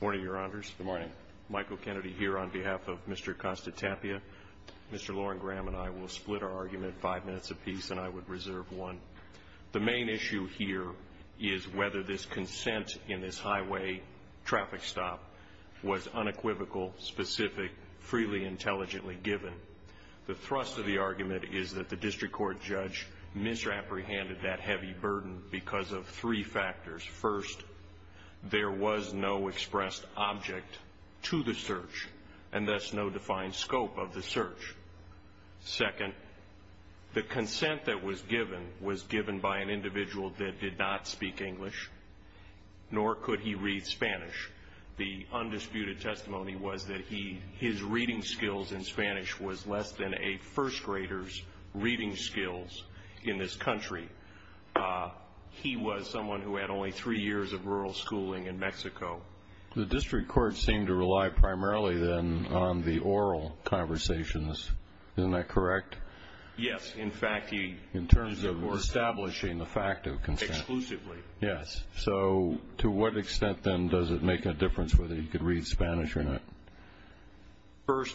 Good morning, your honors. Good morning. Michael Kennedy here on behalf of Mr. Acosta-Tapia. Mr. Loren Graham and I will split our argument five minutes apiece and I would reserve one. The main issue here is whether this consent in this highway traffic stop was unequivocal, specific, freely, intelligently given. The thrust of the argument is that the District Court judge misapprehended that heavy burden because of three factors. First, there was no expressed object to the search and thus no defined scope of the search. Second, the consent that was given was given by an individual that did not speak English, nor could he read Spanish. The undisputed testimony was that his reading skills in Spanish was less than a first grader's skills in this country. He was someone who had only three years of rural schooling in Mexico. The District Court seemed to rely primarily then on the oral conversations. Isn't that correct? Yes. In fact, he... In terms of establishing the fact of consent. Exclusively. Yes. So to what extent then does it make a difference whether he could read Spanish or not? First,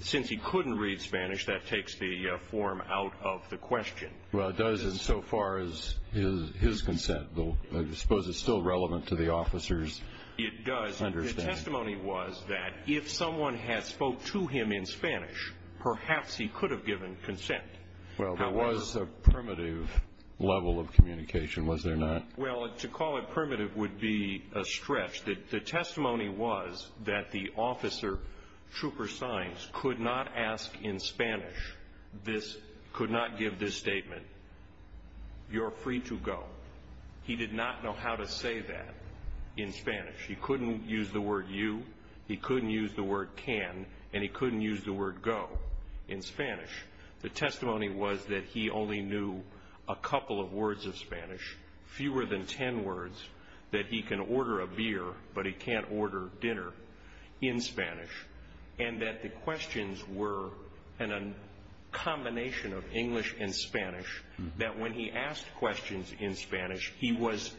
since he couldn't read Spanish, that takes the form out of the question. Well, it does insofar as his consent. I suppose it's still relevant to the officer's understanding. It does. The testimony was that if someone had spoke to him in Spanish, perhaps he could have given consent. However... Well, there was a primitive level of communication, was there not? Well, to call it primitive would be a stretch. The testimony was that the officer, Trooper Saenz, could not ask in Spanish, could not give this statement, you're free to go. He did not know how to say that in Spanish. He couldn't use the word you, he couldn't use the word can, and he couldn't use the word go in Spanish. The testimony was that he only knew a couple of words of Spanish, fewer than 10 words, that he can order a beer, but he can't order dinner in Spanish, and that the questions were in a combination of English and Spanish, that when he asked questions in Spanish, he was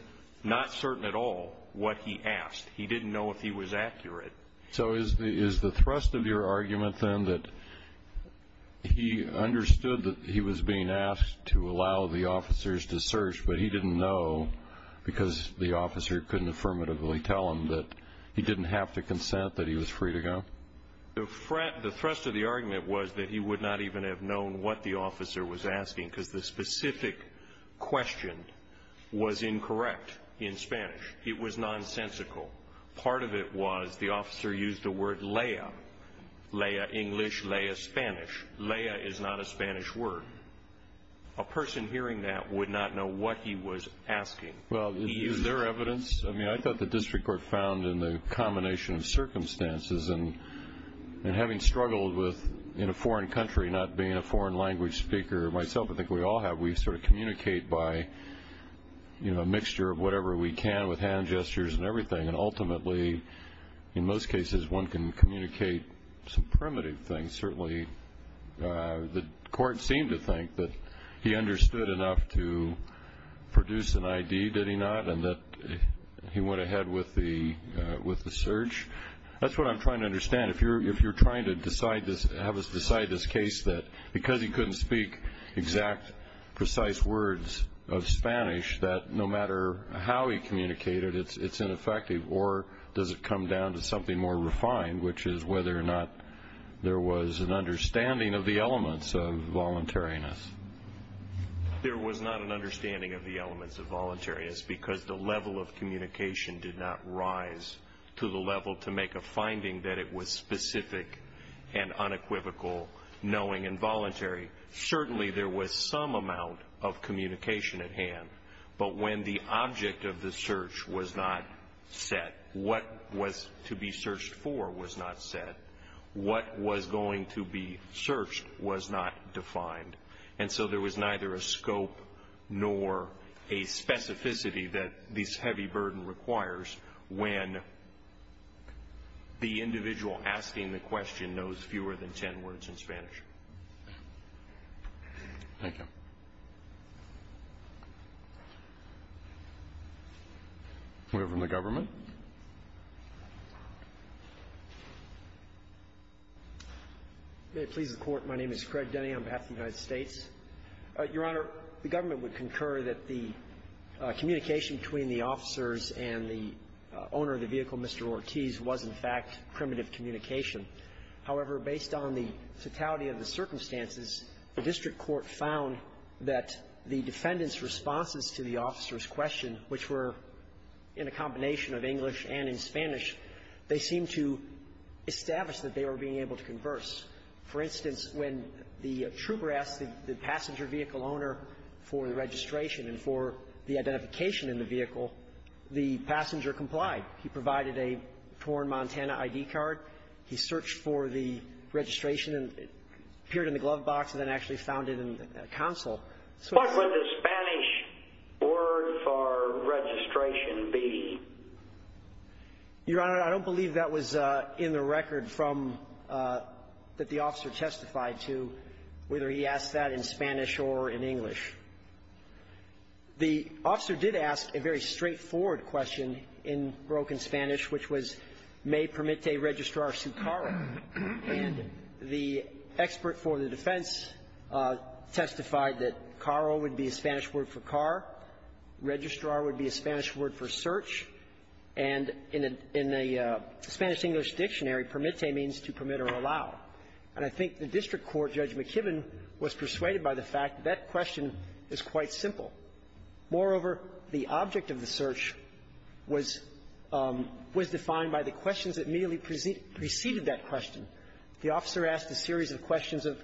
not certain at all what he asked. He didn't know if he was accurate. So is the thrust of your argument, then, that he understood that he was being asked to allow the officers to search, but he didn't know because the officer couldn't affirmatively tell him that he didn't have to consent, that he was free to go? The thrust of the argument was that he would not even have known what the officer was asking, because the specific question was incorrect in Spanish. It was nonsensical. Part of it was the officer used the word lea, lea English, lea Spanish. Lea is not a Spanish word. A person hearing that would not know what he was asking. Well, is there evidence? I mean, I thought the district court found in the combination of circumstances and having struggled with, in a foreign country, not being a foreign language speaker myself, I think we all have, we sort of communicate by, you know, a mixture of whatever we can with hand gestures and everything. And ultimately, in most cases, one can communicate some primitive things. Certainly, the court seemed to think that he understood enough to produce an ID, did he not? And that he went ahead with the search. That's what I'm trying to understand. If you're trying to decide this, have us decide this case that because he couldn't speak exact, precise words of Spanish, that no matter how he communicated, it's ineffective? Or does it come down to something more refined, which is whether or not there was an understanding of the elements of voluntariness? There was not an understanding of the elements of voluntariness, because the level of communication did not rise to the level to make a finding that it was specific and unequivocal, knowing and voluntary. Certainly, there was some amount of communication at hand. But when the object of the search was not set, what was to be searched for was not set. What was going to be searched was not defined. And so there was neither a scope nor a specificity that this heavy burden requires when the individual asking the question knows fewer than 10 words in Spanish. Thank you. We have one from the government. May it please the Court. My name is Craig Denny on behalf of the United States. Your Honor, the government would concur that the communication between the officers and the owner of the vehicle, Mr. Ortiz, was, in fact, primitive communication. However, based on the fatality of the circumstances, the district court found that the defendant's responses to the officer's question, which were in a combination of English and in Spanish, they seemed to establish that they were being able to converse. For instance, when the trooper asked the passenger vehicle owner for the registration and for the identification in the vehicle, the passenger complied. He provided a torn Montana ID card. He searched for the registration and it appeared in the glove box and then actually found it in the console. What would the Spanish word for registration be? Your Honor, I don't believe that was in the record that the officer testified to, whether he asked that in Spanish or in English. The officer did ask a very straightforward question in broken Spanish, which was, may permitte registrar su carro? And the expert for the defense testified that carro would be a Spanish word for car, registrar would be a Spanish word for search, and in a Spanish-English dictionary, permitte means to permit or allow. And I think the district court, Judge McKibbin, was persuaded by the fact that that question is quite simple. Moreover, the object of the search was defined by the questions that immediately preceded that question. The officer asked a series of questions of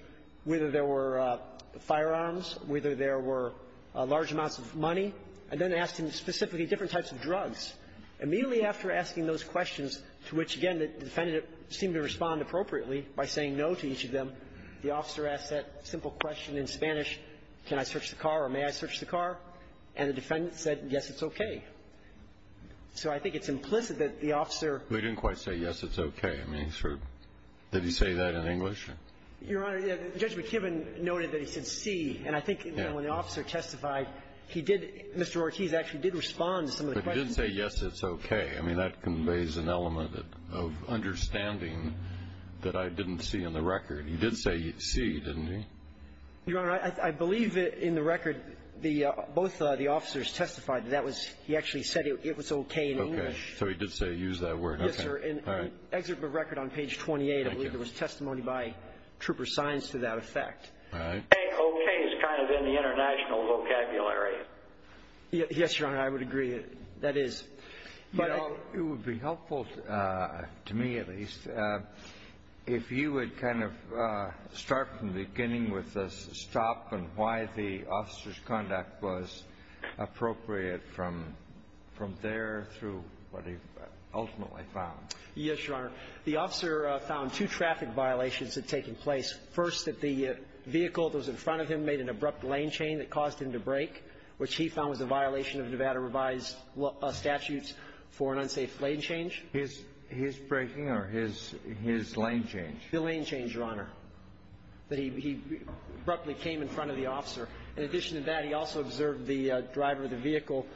whether there were firearms, whether there were large amounts of money, and then asked him specifically different types of drugs. Immediately after asking those questions, to which, again, the defendant seemed to respond appropriately by saying no to each of them, the officer asked that simple question in Spanish, can I search the car or may I search the car? And the defendant said, yes, it's okay. So I think it's implicit that the officer ---- They didn't quite say, yes, it's okay. I mean, sort of. Did he say that in English? Your Honor, Judge McKibbin noted that he said, see. And I think when the officer testified, he did ---- Mr. Ortiz actually did respond to some of the questions. But he didn't say, yes, it's okay. I mean, that conveys an element of understanding that I didn't see in the record. He did say, see, didn't he? Your Honor, I believe that in the record, both the officers testified that that was ---- he actually said it was okay in English. Okay. So he did say, use that word. Yes, sir. And on the excerpt of the record on page 28, I believe there was testimony by trooper signs to that effect. All right. I think okay is kind of in the international vocabulary. Yes, Your Honor, I would agree. That is. But I ---- Well, it would be helpful to me, at least, if you would kind of start from the beginning with the stop and why the officer's conduct was appropriate from there through what he ultimately found. Yes, Your Honor. The officer found two traffic violations had taken place. First, that the vehicle that was in front of him made an abrupt lane chain that constitutes for an unsafe lane change. His braking or his lane change? The lane change, Your Honor, that he abruptly came in front of the officer. In addition to that, he also observed the driver of the vehicle,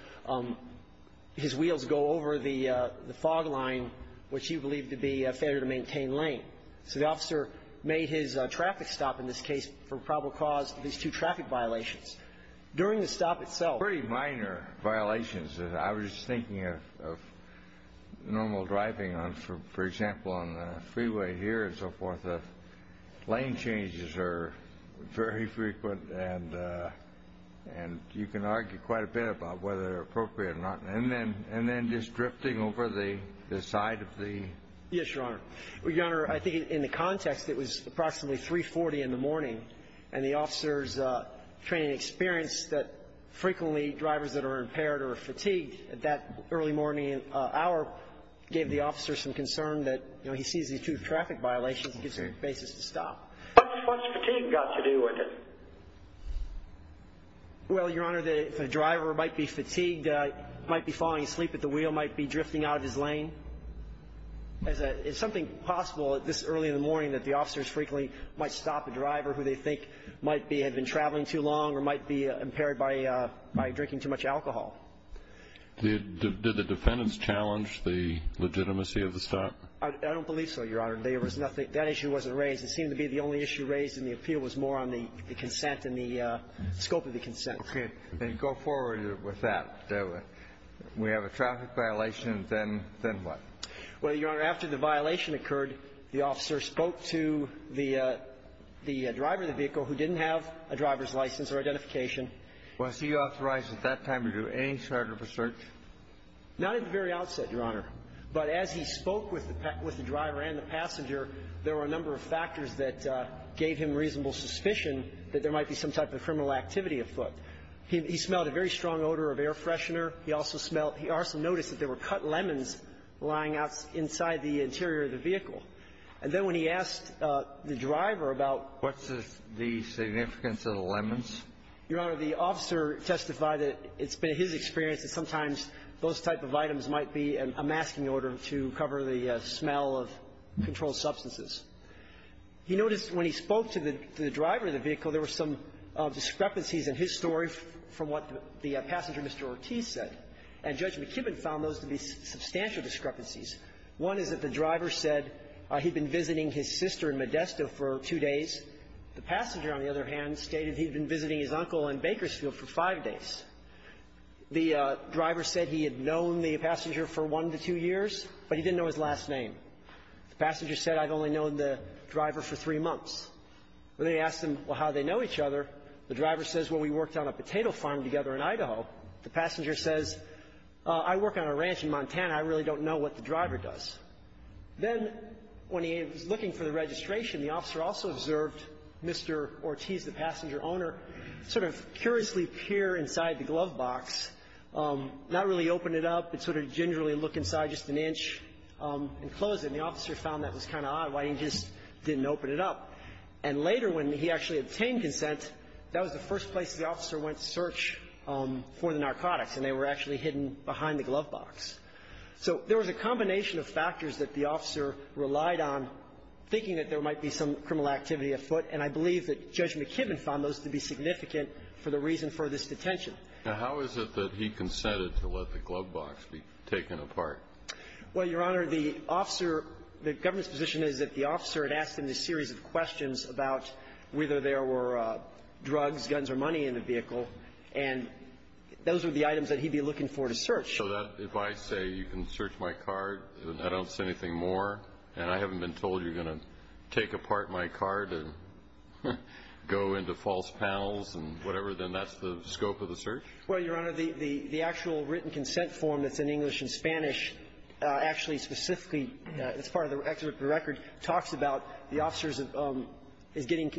his wheels go over the fog line, which he believed to be a failure to maintain lane. So the officer made his traffic stop in this case for probable cause of these two traffic violations. During the stop itself ---- Very minor violations that I was thinking of normal driving on, for example, on the freeway here and so forth. The lane changes are very frequent, and you can argue quite a bit about whether they're appropriate or not. And then just drifting over the side of the ---- Yes, Your Honor. Your Honor, I think in the context, it was approximately 3.40 in the morning, and the officer's training experience that frequently drivers that are impaired or fatigued at that early morning hour gave the officer some concern that, you know, he sees these two traffic violations and gives him a basis to stop. What's fatigue got to do with it? Well, Your Honor, the driver might be fatigued, might be falling asleep at the wheel, might be drifting out of his lane. It's something possible at this early in the morning that the officers frequently might stop a driver who they think might be ---- had been traveling too long or might be impaired by drinking too much alcohol. Did the defendants challenge the legitimacy of the stop? I don't believe so, Your Honor. There was nothing ---- that issue wasn't raised. It seemed to be the only issue raised in the appeal was more on the consent and the scope of the consent. Okay. Then go forward with that. We have a traffic violation, then what? Well, Your Honor, after the violation occurred, the officer spoke to the driver of the vehicle who didn't have a driver's license or identification. Was he authorized at that time to do any sort of research? Not at the very outset, Your Honor. But as he spoke with the driver and the passenger, there were a number of factors that gave him reasonable suspicion that there might be some type of criminal activity afoot. He smelled a very strong odor of air freshener. He also smelled ---- he also noticed that there were cut lemons lying outside the interior of the vehicle. And then when he asked the driver about ---- What's the significance of the lemons? Your Honor, the officer testified that it's been his experience that sometimes those type of items might be a masking order to cover the smell of controlled substances. He noticed when he spoke to the driver of the vehicle, there were some discrepancies in his story from what the passenger, Mr. Ortiz, said. And Judge McKibbin found those to be substantial discrepancies. One is that the driver said he'd been visiting his sister in Modesto for two days. The passenger, on the other hand, stated he'd been visiting his uncle in Bakersfield for five days. The driver said he had known the passenger for one to two years, but he didn't know his last name. The passenger said, I've only known the driver for three months. When they asked him how they know each other, the driver says, well, we worked on a potato farm together in Idaho. The passenger says, I work on a ranch in Montana. I really don't know what the driver does. Then when he was looking for the registration, the officer also observed Mr. Ortiz, the passenger owner, sort of curiously peer inside the glove box, not really open it up, but sort of gingerly look inside just an inch and close it. And the officer found that was kind of odd, why he just didn't open it up. And later when he actually obtained consent, that was the first place the officer went to search for the narcotics, and they were actually hidden behind the glove box. So there was a combination of factors that the officer relied on, thinking that there might be some criminal activity afoot. And I believe that Judge McKibben found those to be significant for the reason for this detention. Now, how is it that he consented to let the glove box be taken apart? Well, Your Honor, the officer, the government's position is that the officer had asked him a series of questions about whether there were drugs, guns, or money in the vehicle, and those are the items that he'd be looking for to search. So that if I say, you can search my car, I don't say anything more, and I haven't been told you're going to take apart my car to go into false panels and whatever, then that's the scope of the search? Well, Your Honor, the actual written consent form that's in English and Spanish actually specifically, as part of the record, talks about the officers of the getting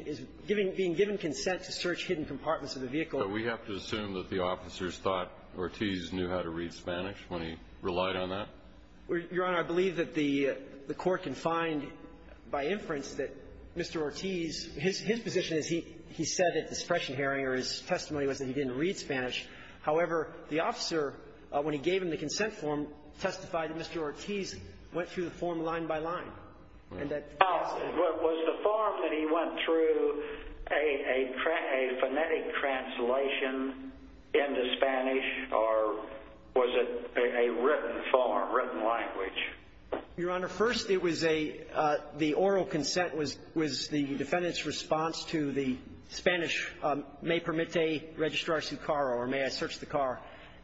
the getting consent to search hidden compartments of the vehicle. So we have to assume that the officers thought Ortiz knew how to read Spanish when he relied on that? Your Honor, I believe that the Court can find by inference that Mr. Ortiz, his position is he said at the suppression hearing or his testimony was that he didn't read Spanish. However, the officer, when he gave him the consent form, testified that Mr. Ortiz went through the form line by line. Was the form that he went through a phonetic translation into Spanish or was it a written form, written language? Your Honor, first it was the oral consent was the defendant's response to the Spanish may permite registrar su carro or may I search the car.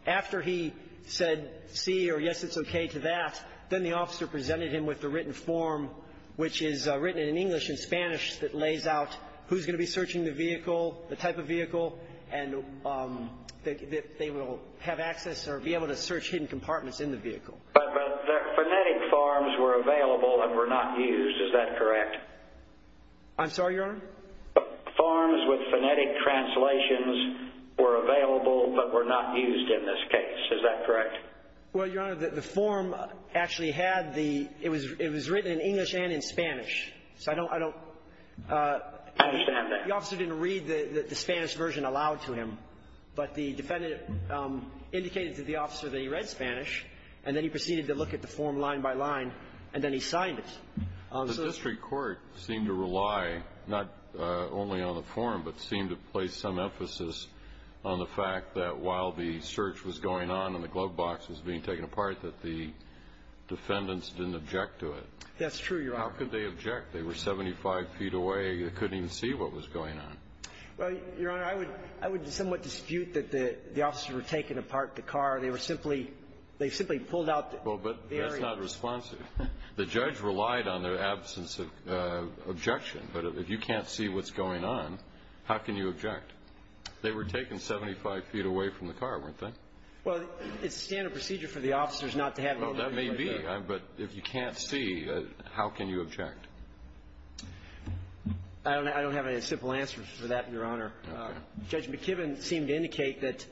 After he said see or yes, it's okay to that, then the officer presented him with the written form, which is written in English and Spanish that lays out who's going to be searching the vehicle, the type of vehicle, and that they will have access or be able to search hidden compartments in the vehicle. But phonetic forms were available and were not used. Is that correct? I'm sorry, Your Honor? Forms with phonetic translations were available but were not used in this case. Is that correct? Well, Your Honor, the form actually had the, it was written in English and in Spanish. So I don't, I don't, the officer didn't read the Spanish version aloud to him. But the defendant indicated to the officer that he read Spanish and then he proceeded to look at the form line by line and then he signed it. The district court seemed to rely not only on the form but seemed to place some emphasis on the fact that while the search was going on and the glove box was being taken apart that the defendants didn't object to it. That's true, Your Honor. How could they object? They were 75 feet away. They couldn't even see what was going on. Well, Your Honor, I would, I would somewhat dispute that the officers were taking apart the car. They were simply, they simply pulled out the area. Well, but that's not responsive. The judge relied on their absence of objection. But if you can't see what's going on, how can you object? They were taken 75 feet away from the car, weren't they? Well, it's standard procedure for the officers not to have an objection. Well, that may be. But if you can't see, how can you object? I don't have a simple answer for that, Your Honor. Okay. Judge McKibben seemed to indicate that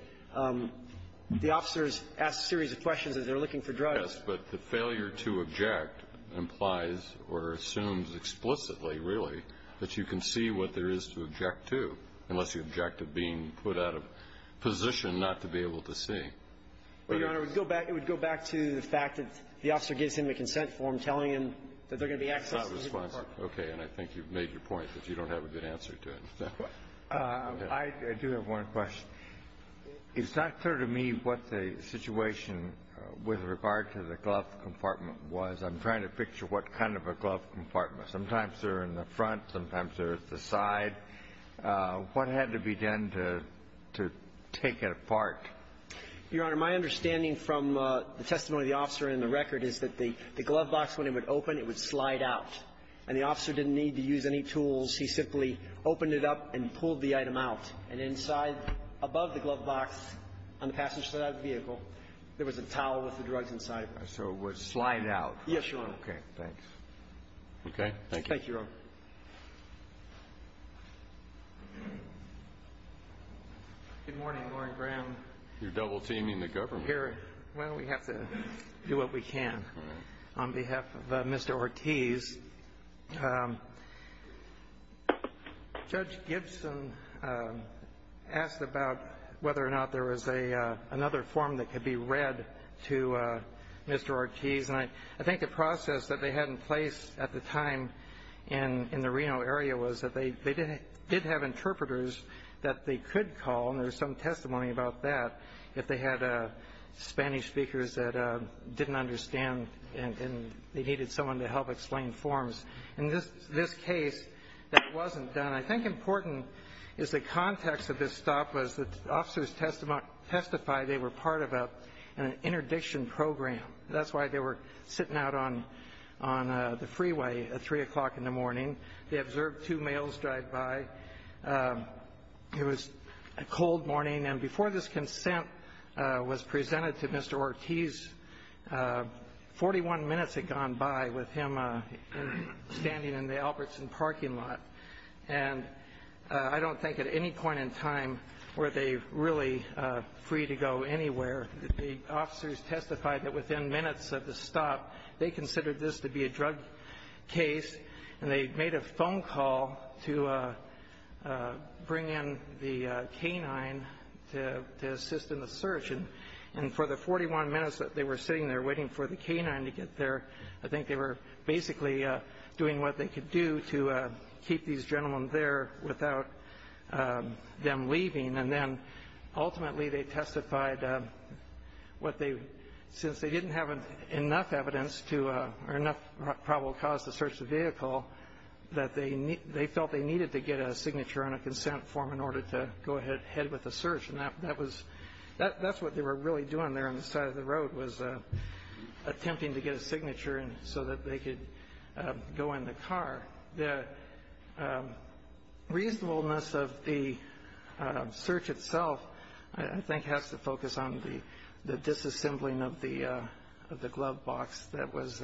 the officers asked a series of questions as they're looking for drugs. Yes, but the failure to object implies or assumes explicitly, really, that you can see what there is to object to, unless you object to being put out of position not to be able to see. Well, Your Honor, it would go back to the fact that the officer gives him a consent form telling him that they're going to be accessing the car. It's not responsive. Okay. And I think you've made your point that you don't have a good answer to it. I do have one question. It's not clear to me what the situation with regard to the glove compartment was. I'm trying to picture what kind of a glove compartment. Sometimes they're in the front. Sometimes they're at the side. What had to be done to take it apart? Your Honor, my understanding from the testimony of the officer and the record is that the glove box, when it would open, it would slide out. And the officer didn't need to use any tools. He simply opened it up and pulled the item out. And inside, above the glove box on the passenger side of the vehicle, there was a towel with the drugs inside of it. So it would slide out. Yes, Your Honor. Okay, thanks. Okay, thank you. Thank you, Your Honor. Good morning, Warren Graham. You're double teaming the government. Here, well, we have to do what we can. On behalf of Mr. Ortiz, Judge Gibson asked about whether or not there was another form that could be read to Mr. Ortiz. And I think the process that they had in place at the time in the Reno area was that they did have interpreters that they could call, and there's some testimony about that, if they had Spanish speakers that didn't understand and they needed someone to help explain forms. In this case, that wasn't done. I think important is the context of this stop was that officers testified they were part of an interdiction program. That's why they were sitting out on the freeway at 3 o'clock in the morning. They observed two males drive by. It was a cold morning, and before this consent was presented to Mr. Ortiz, 41 minutes had gone by with him standing in the Albertson parking lot. And I don't think at any point in time were they really free to go anywhere. The officers testified that within minutes of the stop, they considered this to be a drug case. And they made a phone call to bring in the canine to assist in the search. And for the 41 minutes that they were sitting there waiting for the canine to get there, I think they were basically doing what they could do to keep these gentlemen there without them leaving. And then, ultimately, they testified, since they didn't have enough evidence to, or enough probable cause to search the vehicle, that they felt they needed to get a signature on a consent form in order to go ahead with the search. And that was, that's what they were really doing there on the side of the road, was attempting to get a signature so that they could go in the car. The reasonableness of the search itself, I think, has to focus on the disassembling of the glove box that was-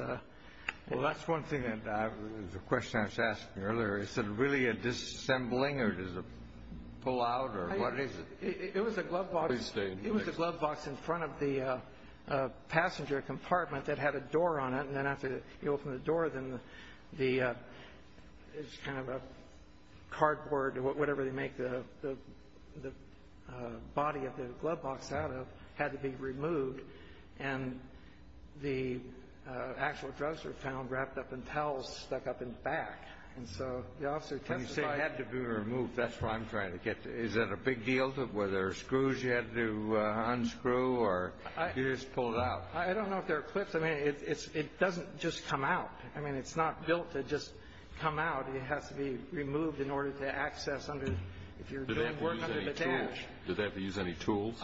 Well, that's one thing, the question I was asked earlier, is it really a disassembling, or does it pull out, or what is it? It was a glove box in front of the passenger compartment that had a door on it. And then after you open the door, then the, it's kind of a cardboard, whatever they make the body of the glove box out of, had to be removed. And the actual drugs were found wrapped up in towels stuck up in the back. And so the officer testified- When you say it had to be removed, that's what I'm trying to get to. Is that a big deal, were there screws you had to unscrew, or did you just pull it out? I don't know if there are clips, I mean, it doesn't just come out. I mean, it's not built to just come out. It has to be removed in order to access under, if you're doing work under the dash. Did they have to use any tools?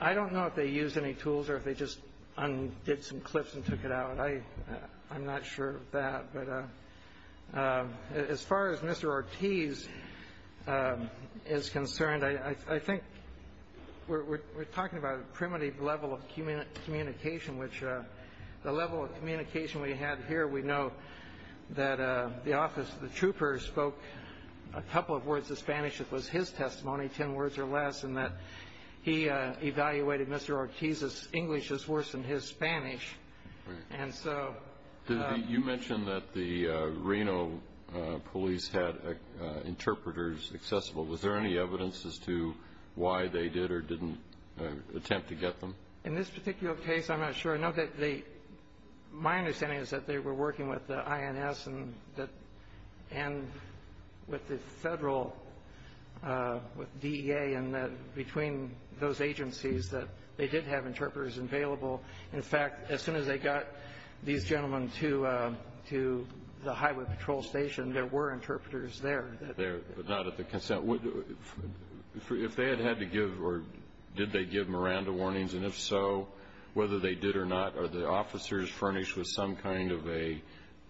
I don't know if they used any tools, or if they just did some clips and took it out. I'm not sure of that, but as far as Mr. Ortiz is concerned, I think we're talking about a primitive level of communication, which the level of communication we had here, we know that the officer, the trooper, spoke a couple of words of Spanish. It was his testimony, ten words or less, and that he evaluated Mr. Ortiz's English as worse than his Spanish. And so- You mentioned that the Reno police had interpreters accessible. Was there any evidence as to why they did or didn't attempt to get them? In this particular case, I'm not sure. No, my understanding is that they were working with the INS and with the federal, with DEA, and between those agencies, that they did have interpreters available. In fact, as soon as they got these gentlemen to the highway patrol station, there were interpreters there. There, but not at the consent. If they had had to give, or did they give Miranda warnings? And if so, whether they did or not, are the officers furnished with some kind of a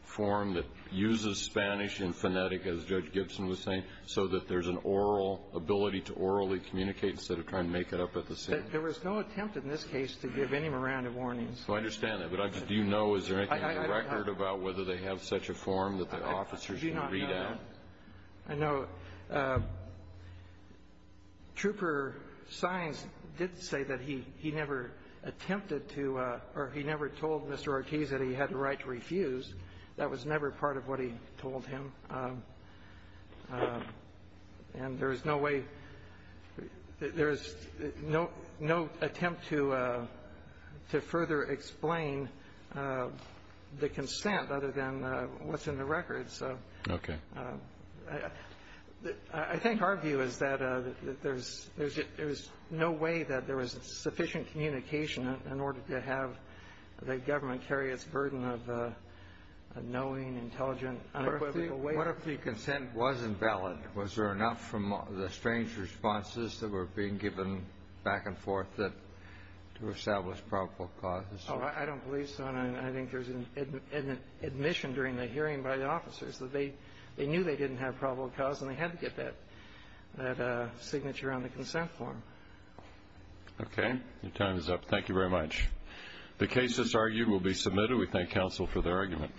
form that uses Spanish and phonetic, as Judge Gibson was saying, so that there's an oral, ability to orally communicate, instead of trying to make it up at the same time? There was no attempt in this case to give any Miranda warnings. I understand that, but do you know, is there anything on the record about whether they have such a form that the officers can read at? I know Trooper Sines did say that he never attempted to, or he never told Mr. Ortiz that he had the right to refuse. That was never part of what he told him. And there is no way, there is no attempt to further explain the consent, other than what's in the record. So I think our view is that there's no way that there was sufficient communication in order to have the government carry its burden of knowing, intelligent, unequivocal ways. What if the consent was invalid? Was there enough from the strange responses that were being given back and forth to establish probable causes? I don't believe so, and I think there's an admission during the hearing by the officers that they knew they didn't have probable cause, and they had to get that signature on the consent form. Okay, your time is up. Thank you very much. The case is argued, will be submitted. We thank counsel for their argument.